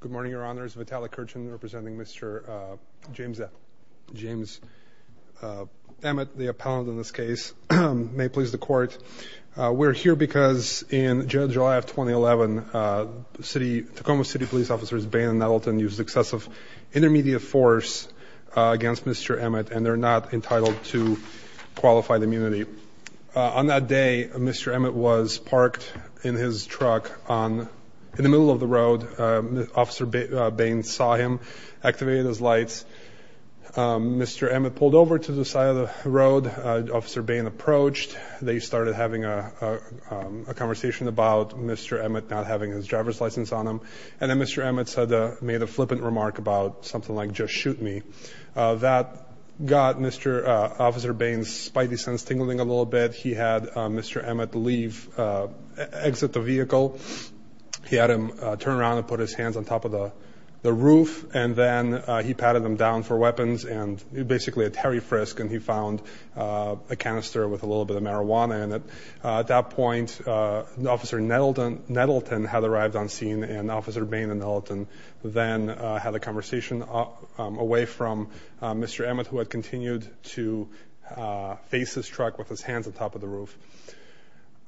Good morning, Your Honors. Vitalik Kurchin representing Mr. James Emmett, the appellant in this case. May it please the Court, we're here because in July of 2011, Tacoma City Police Officers Bain and Nettleton used excessive intermediate force against Mr. Emmett and they're not entitled to qualified immunity. On that day, Mr. Emmett was parked in his car and Officer Bain saw him, activated his lights, Mr. Emmett pulled over to the side of the road, Officer Bain approached, they started having a conversation about Mr. Emmett not having his driver's license on him and then Mr. Emmett made a flippant remark about something like, just shoot me. That got Mr. Officer Bain's spidey sense tingling a little bit. He had Mr. Emmett leave, exit the vehicle. He had him turn around and put his hands on top of the roof and then he patted him down for weapons and basically a Terry Frisk and he found a canister with a little bit of marijuana in it. At that point, Officer Nettleton had arrived on scene and Officer Bain and Nettleton then had a conversation away from Mr. Emmett who had continued to face his truck with his hands on top of the roof.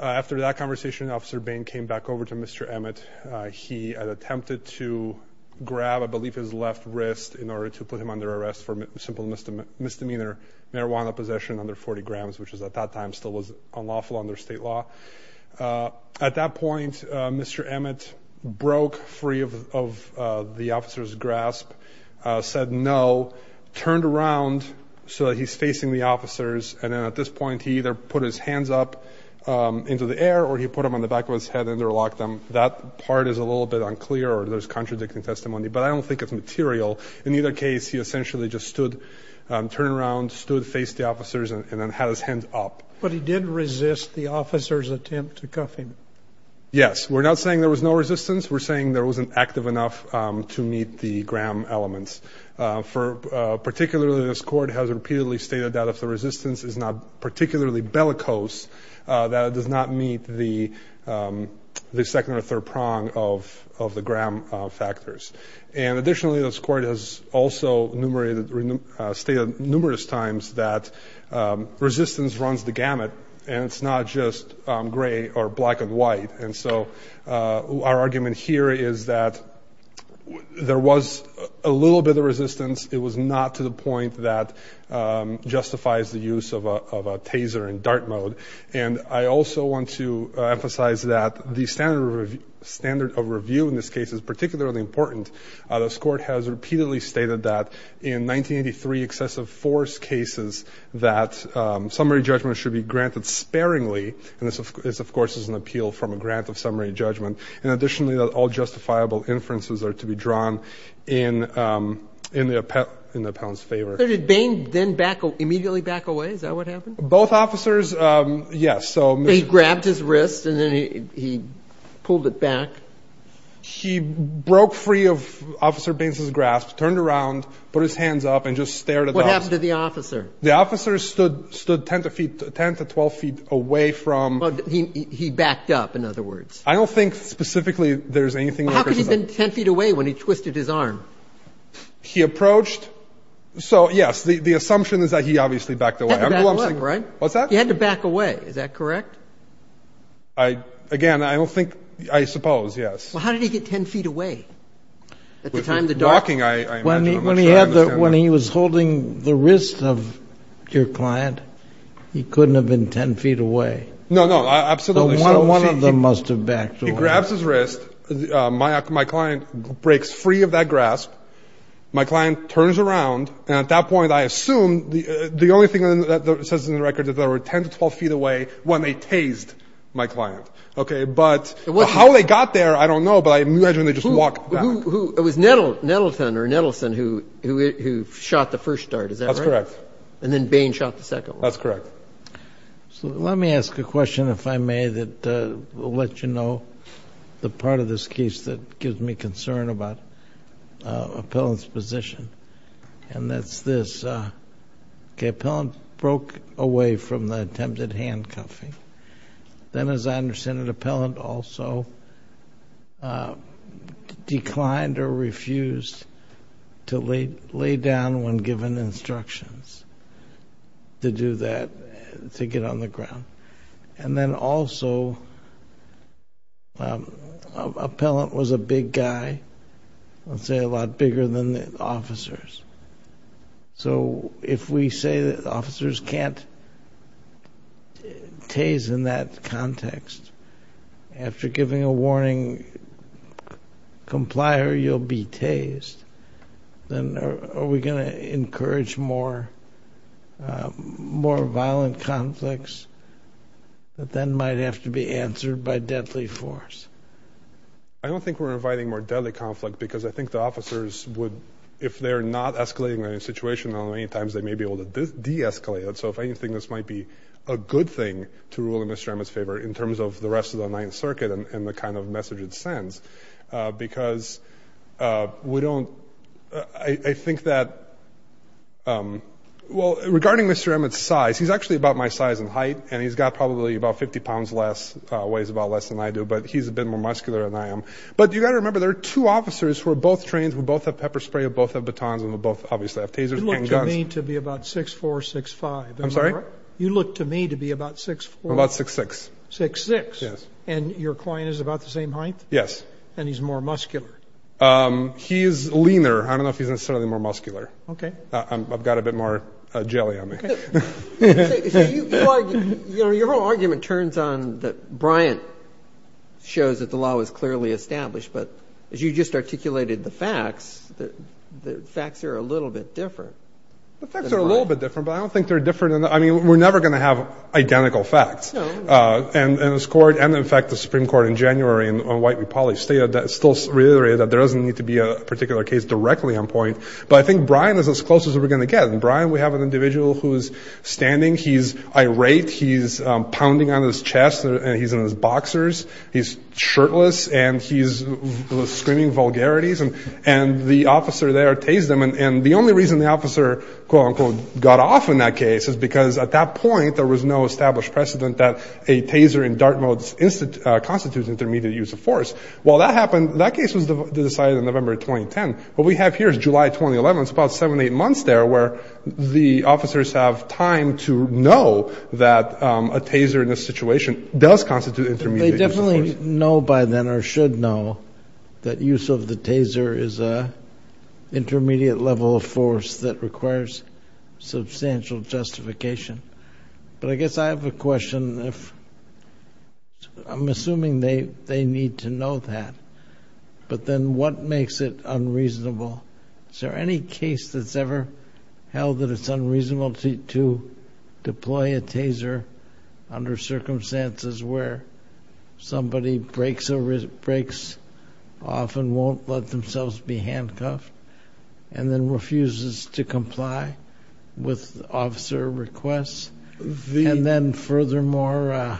After that conversation, Officer Bain came back over to Mr. Emmett. He had attempted to grab, I believe, his left wrist in order to put him under arrest for simple misdemeanor marijuana possession under 40 grams, which at that time still was unlawful under state law. At that point, Mr. Emmett broke free of the officer's grasp, said no, turned around so that he's facing the officers and then at this point, he either put his hands up into the air or he put them on the back of his head and interlocked them. That part is a little bit unclear or there's contradicting testimony, but I don't think it's material. In either case, he essentially just stood, turned around, stood, faced the officers and then had his hands up. But he did resist the officer's attempt to cuff him. Yes, we're not saying there was no resistance. We're saying there wasn't active enough to meet the gram elements. Particularly, this court has repeatedly stated that if the resistance is not particularly bellicose, that it does not meet the second or third prong of the gram factors. And additionally, this court has also stated numerous times that resistance runs the gamut and it's not just gray or black and white. And so our argument here is that there was a little bit of resistance. It was not to the point that justifies the use of a taser in dart mode. And I also want to emphasize that the standard of review in this case is particularly important. This court has repeatedly stated that in 1983 excessive force cases that summary judgment should be granted sparingly. And this, of course, is an appeal from a grant of summary judgment. And additionally, all justifiable inferences are to be drawn in the appellant's favor. So did Bain then immediately back away? Is that what happened? Both officers, yes. So he grabbed his wrist and then he pulled it back. He broke free of Officer Bain's grasp, turned around, put his hands up and just stared at the officer. What happened to the officer? The officer stood 10 to 12 feet away from. He backed up, in other words. I don't think specifically there's anything. How could he have been 10 feet away when he twisted his arm? He approached. So, yes, the assumption is that he obviously backed away. He had to back away, right? What's that? He had to back away. Is that correct? Again, I don't think, I suppose, yes. Well, how did he get 10 feet away at the time? Walking, I imagine. When he was holding the wrist of your client, he couldn't have been 10 feet away. No, no, absolutely. So one of them must have backed away. He grabs his wrist. My client breaks free of that grasp. My client turns around. And at that point, I assume the only thing that says in the record that they were 10 to 12 feet away when they tased my client. OK, but how they got there, I don't know. But I imagine they just walked back. It was Nettleton or Nettleson who shot the first dart, is that right? That's correct. And then Bain shot the second one. That's correct. So let me ask a question, if I may, that will let you know the part of this case that gives me concern about Appellant's position. And that's this. OK, Appellant broke away from the attempted handcuffing. Then, as I understand it, Appellant also declined or refused to lay down when given instructions to do that, to get on the ground. And then also, Appellant was a big guy, let's say a lot bigger than the officers. So if we say that officers can't tase in that context, after giving a warning, comply or you'll be tased, then are we going to encourage more violent conflicts that then might have to be answered by deadly force? I don't think we're inviting more deadly conflict, because I think the officers would, if they're not escalating the situation many times, they may be able to de-escalate it. So if anything, this might be a good thing to rule in Mr. Emmett's favor in terms of the rest of the Ninth Circuit and the kind of message it sends. Because we don't, I think that, well, regarding Mr. Emmett's size, he's actually about my size and height. And he's got probably about 50 pounds less, weighs about less than I do. But he's a bit more muscular than I am. But you've got to remember, there are two officers who are both trained, who both have pepper spray, who both have batons, and who both obviously have tasers and guns. You look to me to be about 6'4", 6'5". I'm sorry? You look to me to be about 6'4". About 6'6". 6'6"? Yes. And your client is about the same height? Yes. And he's more muscular? He is leaner. I don't know if he's necessarily more muscular. OK. I've got a bit more jelly on me. Your whole argument turns on that Bryant shows that the law is clearly established. But as you just articulated the facts, the facts are a little bit different. The facts are a little bit different, but I don't think they're different. I mean, we're never going to have identical facts. And in fact, the Supreme Court in January on White v. Polly stated, still reiterated, that there doesn't need to be a particular case directly on point. But I think Bryant is as close as we're going to get. And Bryant, we have an individual who is standing. He's irate. He's pounding on his chest. And he's in his boxers. He's shirtless. And he's screaming vulgarities. And the officer there tased him. And the only reason the officer, quote unquote, got off in that case is because at that point, there was no established precedent that a taser in dart mode constitutes intermediate use of force. Well, that happened. That case was decided in November 2010. What we have here is July 2011. It's about seven, eight months there where the officers have time to know that a taser in this situation does constitute intermediate use of force. But they definitely know by then, or should know, that use of the taser is an intermediate level of force that requires substantial justification. But I guess I have a question. I'm assuming they need to know that. But then what makes it unreasonable? Is there any case that's ever held that it's unreasonable to deploy a taser under circumstances where somebody breaks off and won't let themselves be handcuffed and then refuses to comply with officer requests? And then furthermore,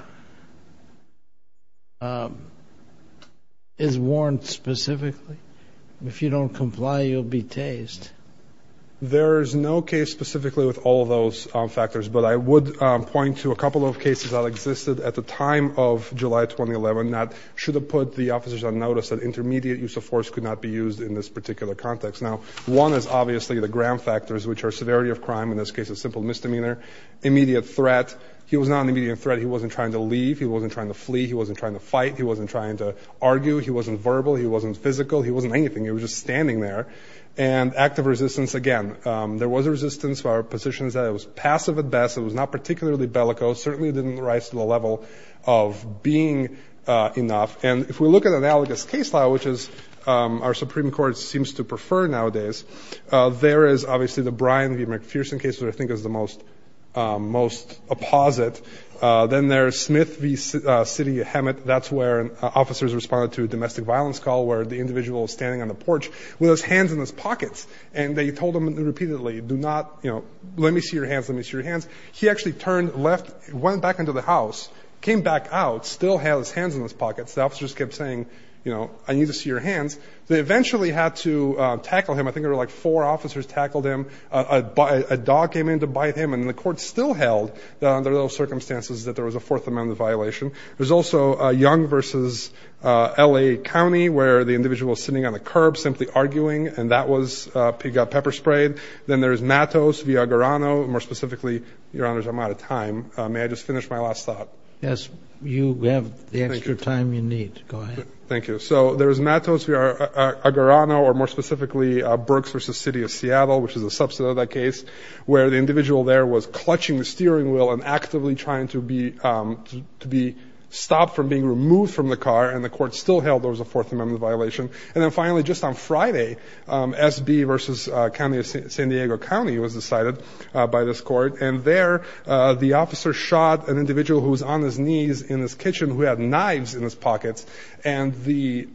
is warrant specifically? If you don't comply, you'll be tased. There is no case specifically with all of those factors. But I would point to a couple of cases that existed at the time of July 2011 that should have put the officers on notice that intermediate use of force could not be used in this particular context. Now, one is obviously the Graham factors, which are severity of crime, in this case, a simple misdemeanor. Immediate threat. He was not an immediate threat. He wasn't trying to leave. He wasn't trying to flee. He wasn't trying to fight. He wasn't trying to argue. He wasn't verbal. He wasn't physical. He wasn't anything. He was just standing there. And active resistance, again, there was a resistance for positions that it was passive at best. It was not particularly bellicose, certainly didn't rise to the level of being enough. And if we look at analogous case law, which is our Supreme Court seems to prefer nowadays, there is obviously the Bryan v. McPherson case, which I think is the most apposite. Then there's Smith v. Sidney Hemet. That's where officers responded to a domestic violence call where the individual was standing on the porch with his hands in his pockets. And they told him repeatedly, do not, you know, let me see your hands. Let me see your hands. He actually turned left, went back into the house, came back out, still had his hands in his pockets. The officers kept saying, you know, I need to see your hands. They eventually had to tackle him. There were like four officers tackled him. A dog came in to bite him. And the court still held under those circumstances that there was a fourth amendment violation. There's also Young v. L.A. County, where the individual was sitting on the curb, simply arguing. And that was pepper sprayed. Then there's Matos v. Aguirreno. More specifically, your honors, I'm out of time. May I just finish my last thought? Yes, you have the extra time you need. Go ahead. Thank you. So there's Matos v. Aguirreno, or more specifically, Berks v. City of Seattle, which is a subset of that case, where the individual there was clutching the steering wheel and actively trying to be stopped from being removed from the car. And the court still held there was a fourth amendment violation. And then finally, just on Friday, S.B. v. County of San Diego County was decided by this court. And there, the officer shot an individual who was on his knees in his kitchen who had knives in his pockets. And the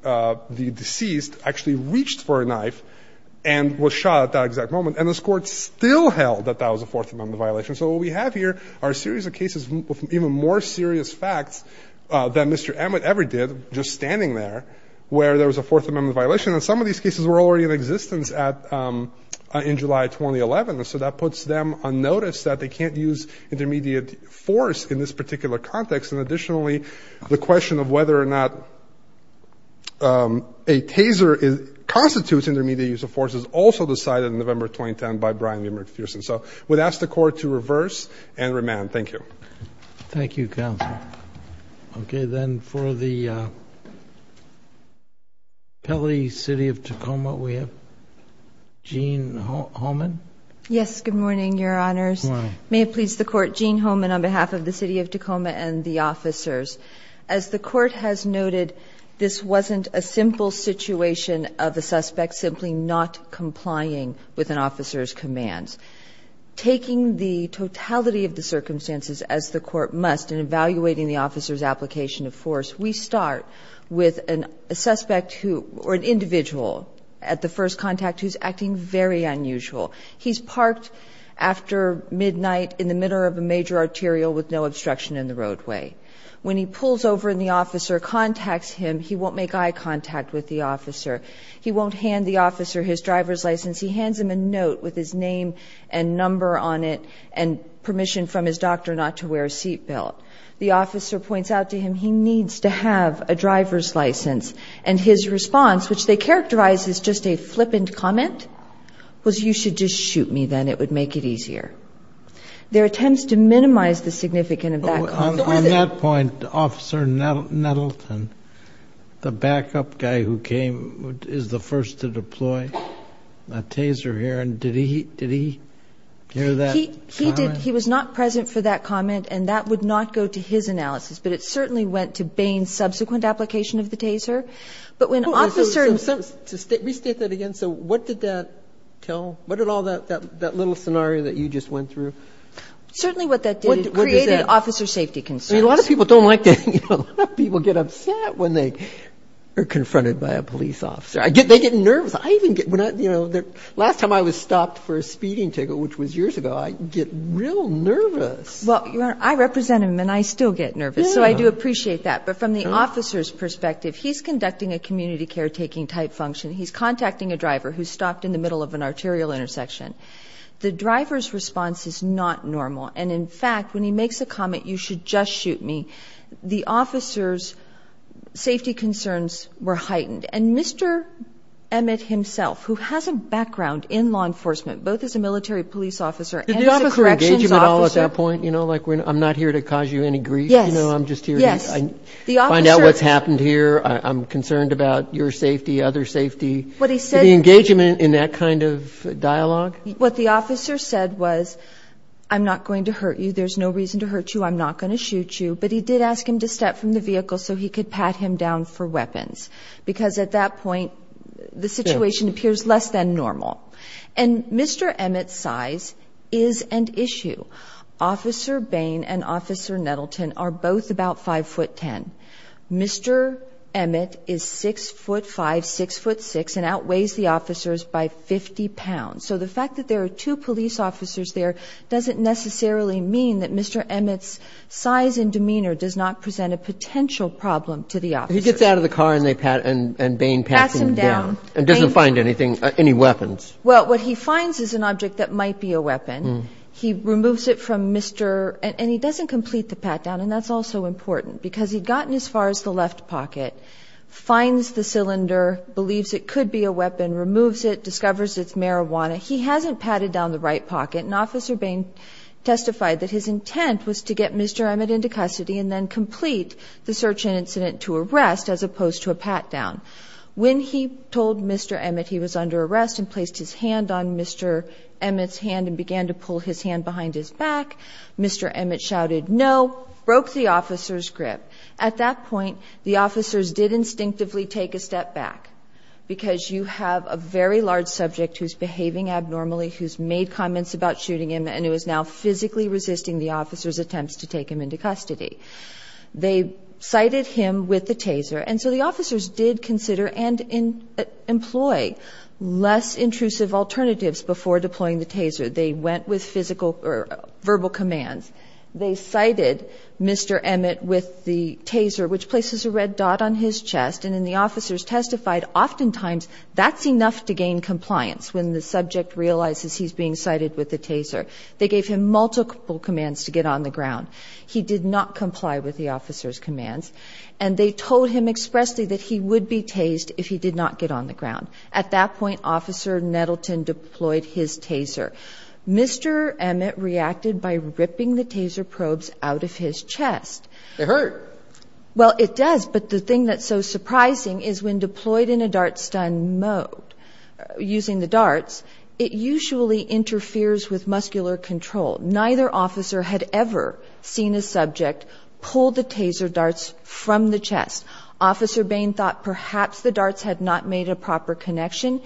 deceased actually reached for a knife and was shot at that exact moment. And this court still held that that was a fourth amendment violation. So what we have here are a series of cases with even more serious facts than Mr. Emmett ever did, just standing there, where there was a fourth amendment violation. And some of these cases were already in existence in July 2011. And so that puts them on notice that they can't use intermediate force in this particular context. And additionally, the question of whether or not a taser constitutes intermediate use of force is also decided in November 2010 by Brian M. McPherson. So we'd ask the court to reverse and remand. Thank you. Thank you, counsel. Okay. Then for the penalty, City of Tacoma, we have Jean Homan. Yes. Good morning, Your Honors. May it please the court. Jean Homan on behalf of the City of Tacoma and the officers. As the court has noted, this wasn't a simple situation of a suspect simply not complying with an officer's commands. Taking the totality of the circumstances as the court must in evaluating the officer's application of force, we start with a suspect who or an individual at the first contact who's acting very unusual. He's parked after midnight in the middle of a major arterial with no obstruction in the roadway. When he pulls over and the officer contacts him, he won't make eye contact with the officer. He won't hand the officer his driver's license. He hands him a note with his name and number on it and permission from his doctor not to wear a seat belt. The officer points out to him he needs to have a driver's license. And his response, which they characterize as just a flippant comment, was you should just shoot me then. It would make it easier. There are attempts to minimize the significance of that comment. On that point, Officer Nettleton, the backup guy who came is the first to deploy a taser here. And did he hear that comment? He was not present for that comment, and that would not go to his analysis. But it certainly went to Bain's subsequent application of the taser. But when officers... To restate that again, so what did that tell? What did all that little scenario that you just went through? Certainly what that did, it created officer safety concerns. A lot of people don't like that. A lot of people get upset when they are confronted by a police officer. I get they get nervous. I even get, you know, last time I was stopped for a speeding ticket, which was years ago, I get real nervous. Well, Your Honor, I represent him, and I still get nervous. So I do appreciate that. But from the officer's perspective, he's conducting a community caretaking type function. He's contacting a driver who's stopped in the middle of an arterial intersection. The driver's response is not normal. And in fact, when he makes a comment, you should just shoot me, the officer's safety concerns were heightened. And Mr. Emmett himself, who has a background in law enforcement, both as a military police officer and as a corrections officer. Did the officer engage him at all at that point? You know, like, I'm not here to cause you any grief. Yes. You know, I'm just here to find out what's happened here. I'm concerned about your safety, other safety. The engagement in that kind of dialogue? What the officer said was, I'm not going to hurt you. There's no reason to hurt you. I'm not going to shoot you. But he did ask him to step from the vehicle so he could pat him down for weapons, because at that point, the situation appears less than normal. And Mr. Emmett's size is an issue. Officer Bain and Officer Nettleton are both about 5'10". Mr. Emmett is 6'5", 6'6", and outweighs the officers by 50 pounds. So the fact that there are two police officers there doesn't necessarily mean that Mr. Emmett's size and demeanor does not present a potential problem to the officers. He gets out of the car and they pat and Bain pats him down and doesn't find anything, any weapons. What he finds is an object that might be a weapon. He removes it from Mr. and he doesn't complete the pat down. And that's also important because he'd gotten as far as the left pocket, finds the cylinder, believes it could be a weapon, removes it, discovers it's marijuana. He hasn't patted down the right pocket. And Officer Bain testified that his intent was to get Mr. Emmett into custody and then complete the search and incident to arrest as opposed to a pat down. When he told Mr. Emmett he was under arrest and placed his hand on Mr. Emmett's hand and began to pull his hand behind his back, Mr. Emmett shouted no, broke the officer's grip. At that point, the officers did instinctively take a step back because you have a very large subject who's behaving abnormally, who's made comments about shooting him, and it was now physically resisting the officer's attempts to take him into custody. They cited him with the taser. And so the officers did consider and employ less intrusive alternatives before deploying the taser. They went with physical or verbal commands. They cited Mr. Emmett with the taser, which places a red dot on his chest. And then the officers testified. Oftentimes, that's enough to gain compliance. When the subject realizes he's being cited with the taser, they gave him multiple commands to get on the ground. He did not comply with the officer's commands. And they told him expressly that he would be tased if he did not get on the ground. At that point, Officer Nettleton deployed his taser. Mr. Emmett reacted by ripping the taser probes out of his chest. It hurt. Well, it does. But the thing that's so surprising is when deployed in a dart stun mode using the darts, it usually interferes with muscular control. Neither officer had ever seen a subject pull the taser darts from the chest. Officer Bain thought perhaps the darts had not made a proper connection.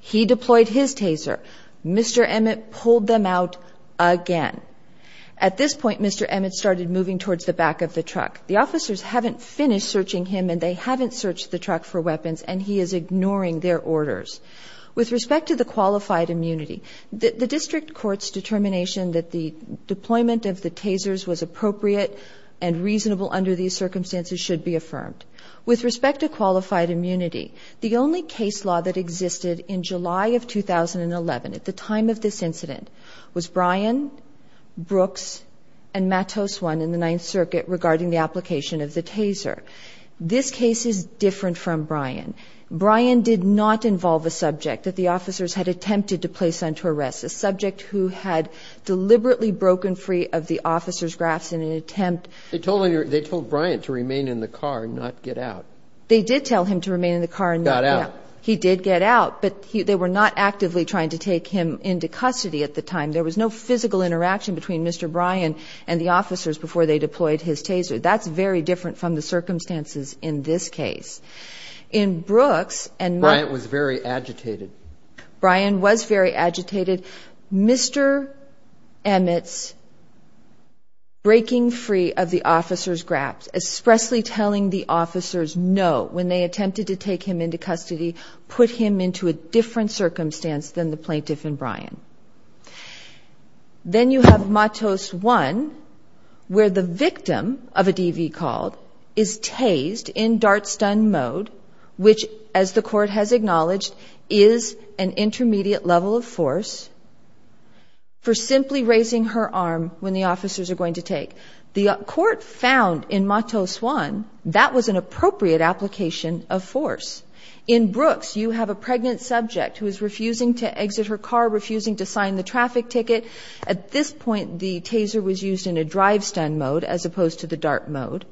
He deployed his taser. Mr. Emmett pulled them out again. At this point, Mr. Emmett started moving towards the back of the truck. The officers haven't finished searching him. And they haven't searched the truck for weapons. And he is ignoring their orders. With respect to the qualified immunity, the district court's determination that the deployment of the tasers was appropriate and reasonable under these circumstances should be affirmed. With respect to qualified immunity, the only case law that existed in July of 2011 at the time of this incident was Bryan, Brooks, and Matos 1 in the Ninth Circuit regarding the application of the taser. This case is different from Bryan. Bryan did not involve a subject that the officers had attempted to place under arrest, a subject who had deliberately broken free of the officer's grafts in an attempt. They told Bryan to remain in the car and not get out. They did tell him to remain in the car and not get out. Got out. He did get out. But they were not actively trying to take him into custody at the time. There was no physical interaction between Mr. Bryan and the officers before they deployed his taser. That's very different from the circumstances in this case. In Brooks and— Bryan was very agitated. Bryan was very agitated. Mr. Emmett's breaking free of the officer's grafts, expressly telling the officers no when they attempted to take him into custody put him into a different circumstance than the plaintiff and Bryan. Then you have Matos 1, where the victim of a DV called is tased in dart stun mode, which, as the court has acknowledged, is an intermediate level of force for simply raising her arm when the officers are going to take. The court found in Matos 1 that was an appropriate application of force. In Brooks, you have a pregnant subject who is refusing to exit her car, refusing to sign the traffic ticket. At this point, the taser was used in a drive stun mode as opposed to the dart mode.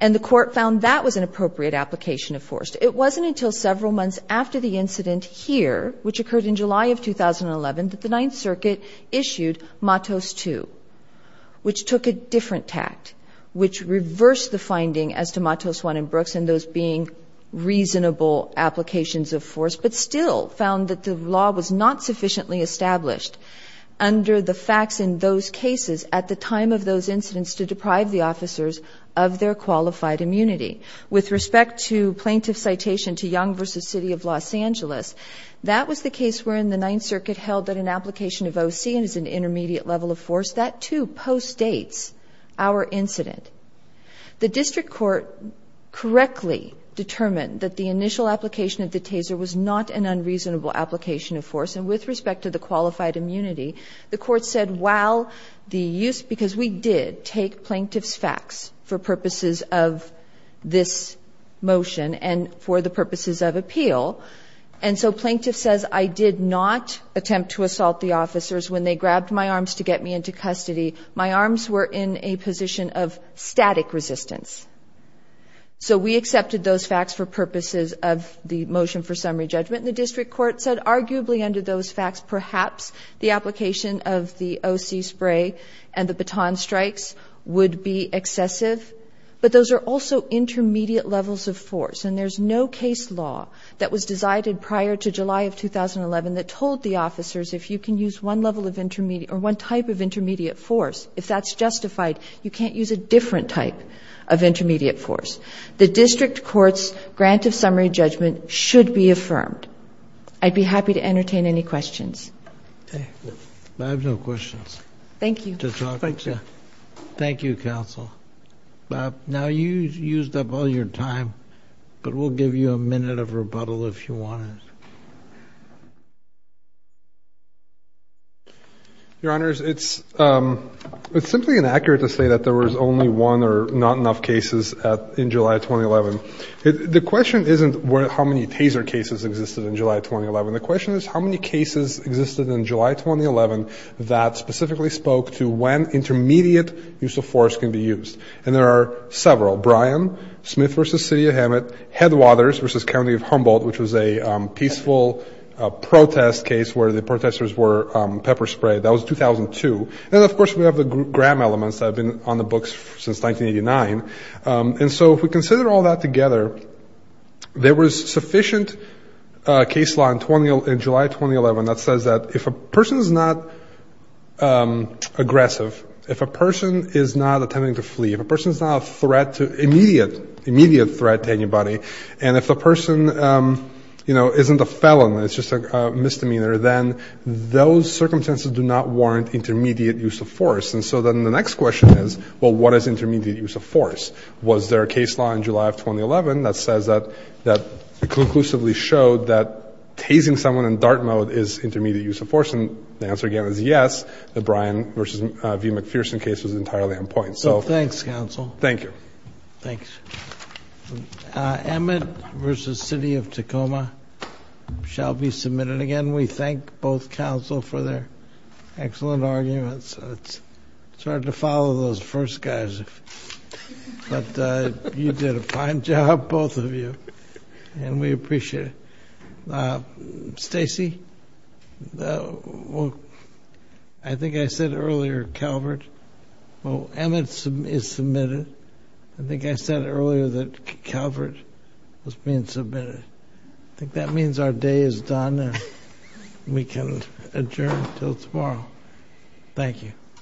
And the court found that was an appropriate application of force. It wasn't until several months after the incident here, which occurred in July of 2011, that the Ninth Circuit issued Matos 2, which took a different tact, which reversed the finding as to Matos 1 in Brooks and those being reasonable applications of force, but still found that the law was not sufficiently established under the facts in those cases at the time of those incidents to deprive the officers of their qualified immunity. With respect to plaintiff citation to Young v. City of Los Angeles, that was the case where in the Ninth Circuit held that an application of OC and as an intermediate level of force, that too postdates our incident. The district court correctly determined that the initial application of the taser was not an unreasonable application of force. And with respect to the qualified immunity, the court said, while the use, because we did take plaintiff's facts for purposes of this motion and for the purposes of appeal. And so plaintiff says, I did not attempt to assault the officers when they grabbed my arms to get me into custody. My arms were in a position of static resistance. So we accepted those facts for purposes of the motion for summary judgment. The district court said arguably under those facts, perhaps the application of the OC spray and the baton strikes would be excessive. But those are also intermediate levels of force. And there's no case law that was decided prior to July of 2011 that told the officers if you can use one level of intermediate or one type of intermediate force, if that's justified, you can't use a different type of intermediate force. The district court's grant of summary judgment should be affirmed. I'd be happy to entertain any questions. I have no questions. Thank you. Thank you, counsel. Now you used up all your time, but we'll give you a minute of rebuttal if you want it. Your honors, it's simply inaccurate to say that there was only one or not enough cases in July of 2011. The question isn't how many taser cases existed in July 2011. The question is how many cases existed in July 2011 that specifically spoke to when intermediate use of force can be used. And there are several. Bryan, Smith v. City of Hammett, Headwaters v. County of Humboldt, which was a peaceful protest case where the protesters were pepper sprayed. That was 2002. And of course, we have the Graham elements that have been on the books since 1989. And so if we consider all that together, there was sufficient case law in July 2011 that says that if a person is not aggressive, if a person is not attempting to flee, if a person is not a threat to immediate, immediate threat to anybody, and if the person, you know, isn't a felon, it's just a misdemeanor, then those circumstances do not warrant intermediate use of force. And so then the next question is, well, what is intermediate use of force? Was there a case law in July of 2011 that says that, that conclusively showed that tasing someone in dart mode is intermediate use of force? And the answer, again, is yes. The Bryan v. McPherson case was entirely on point. So thanks, counsel. Thank you. Thanks. Emmett v. City of Tacoma shall be submitted again. We thank both counsel for their excellent arguments. It's hard to follow those first guys. But you did a fine job, both of you. And we appreciate it. Stacy? Well, I think I said earlier, Calvert. Well, Emmett is submitted. I think I said earlier that Calvert was being submitted. I think that means our day is done and we can adjourn until tomorrow. Thank you.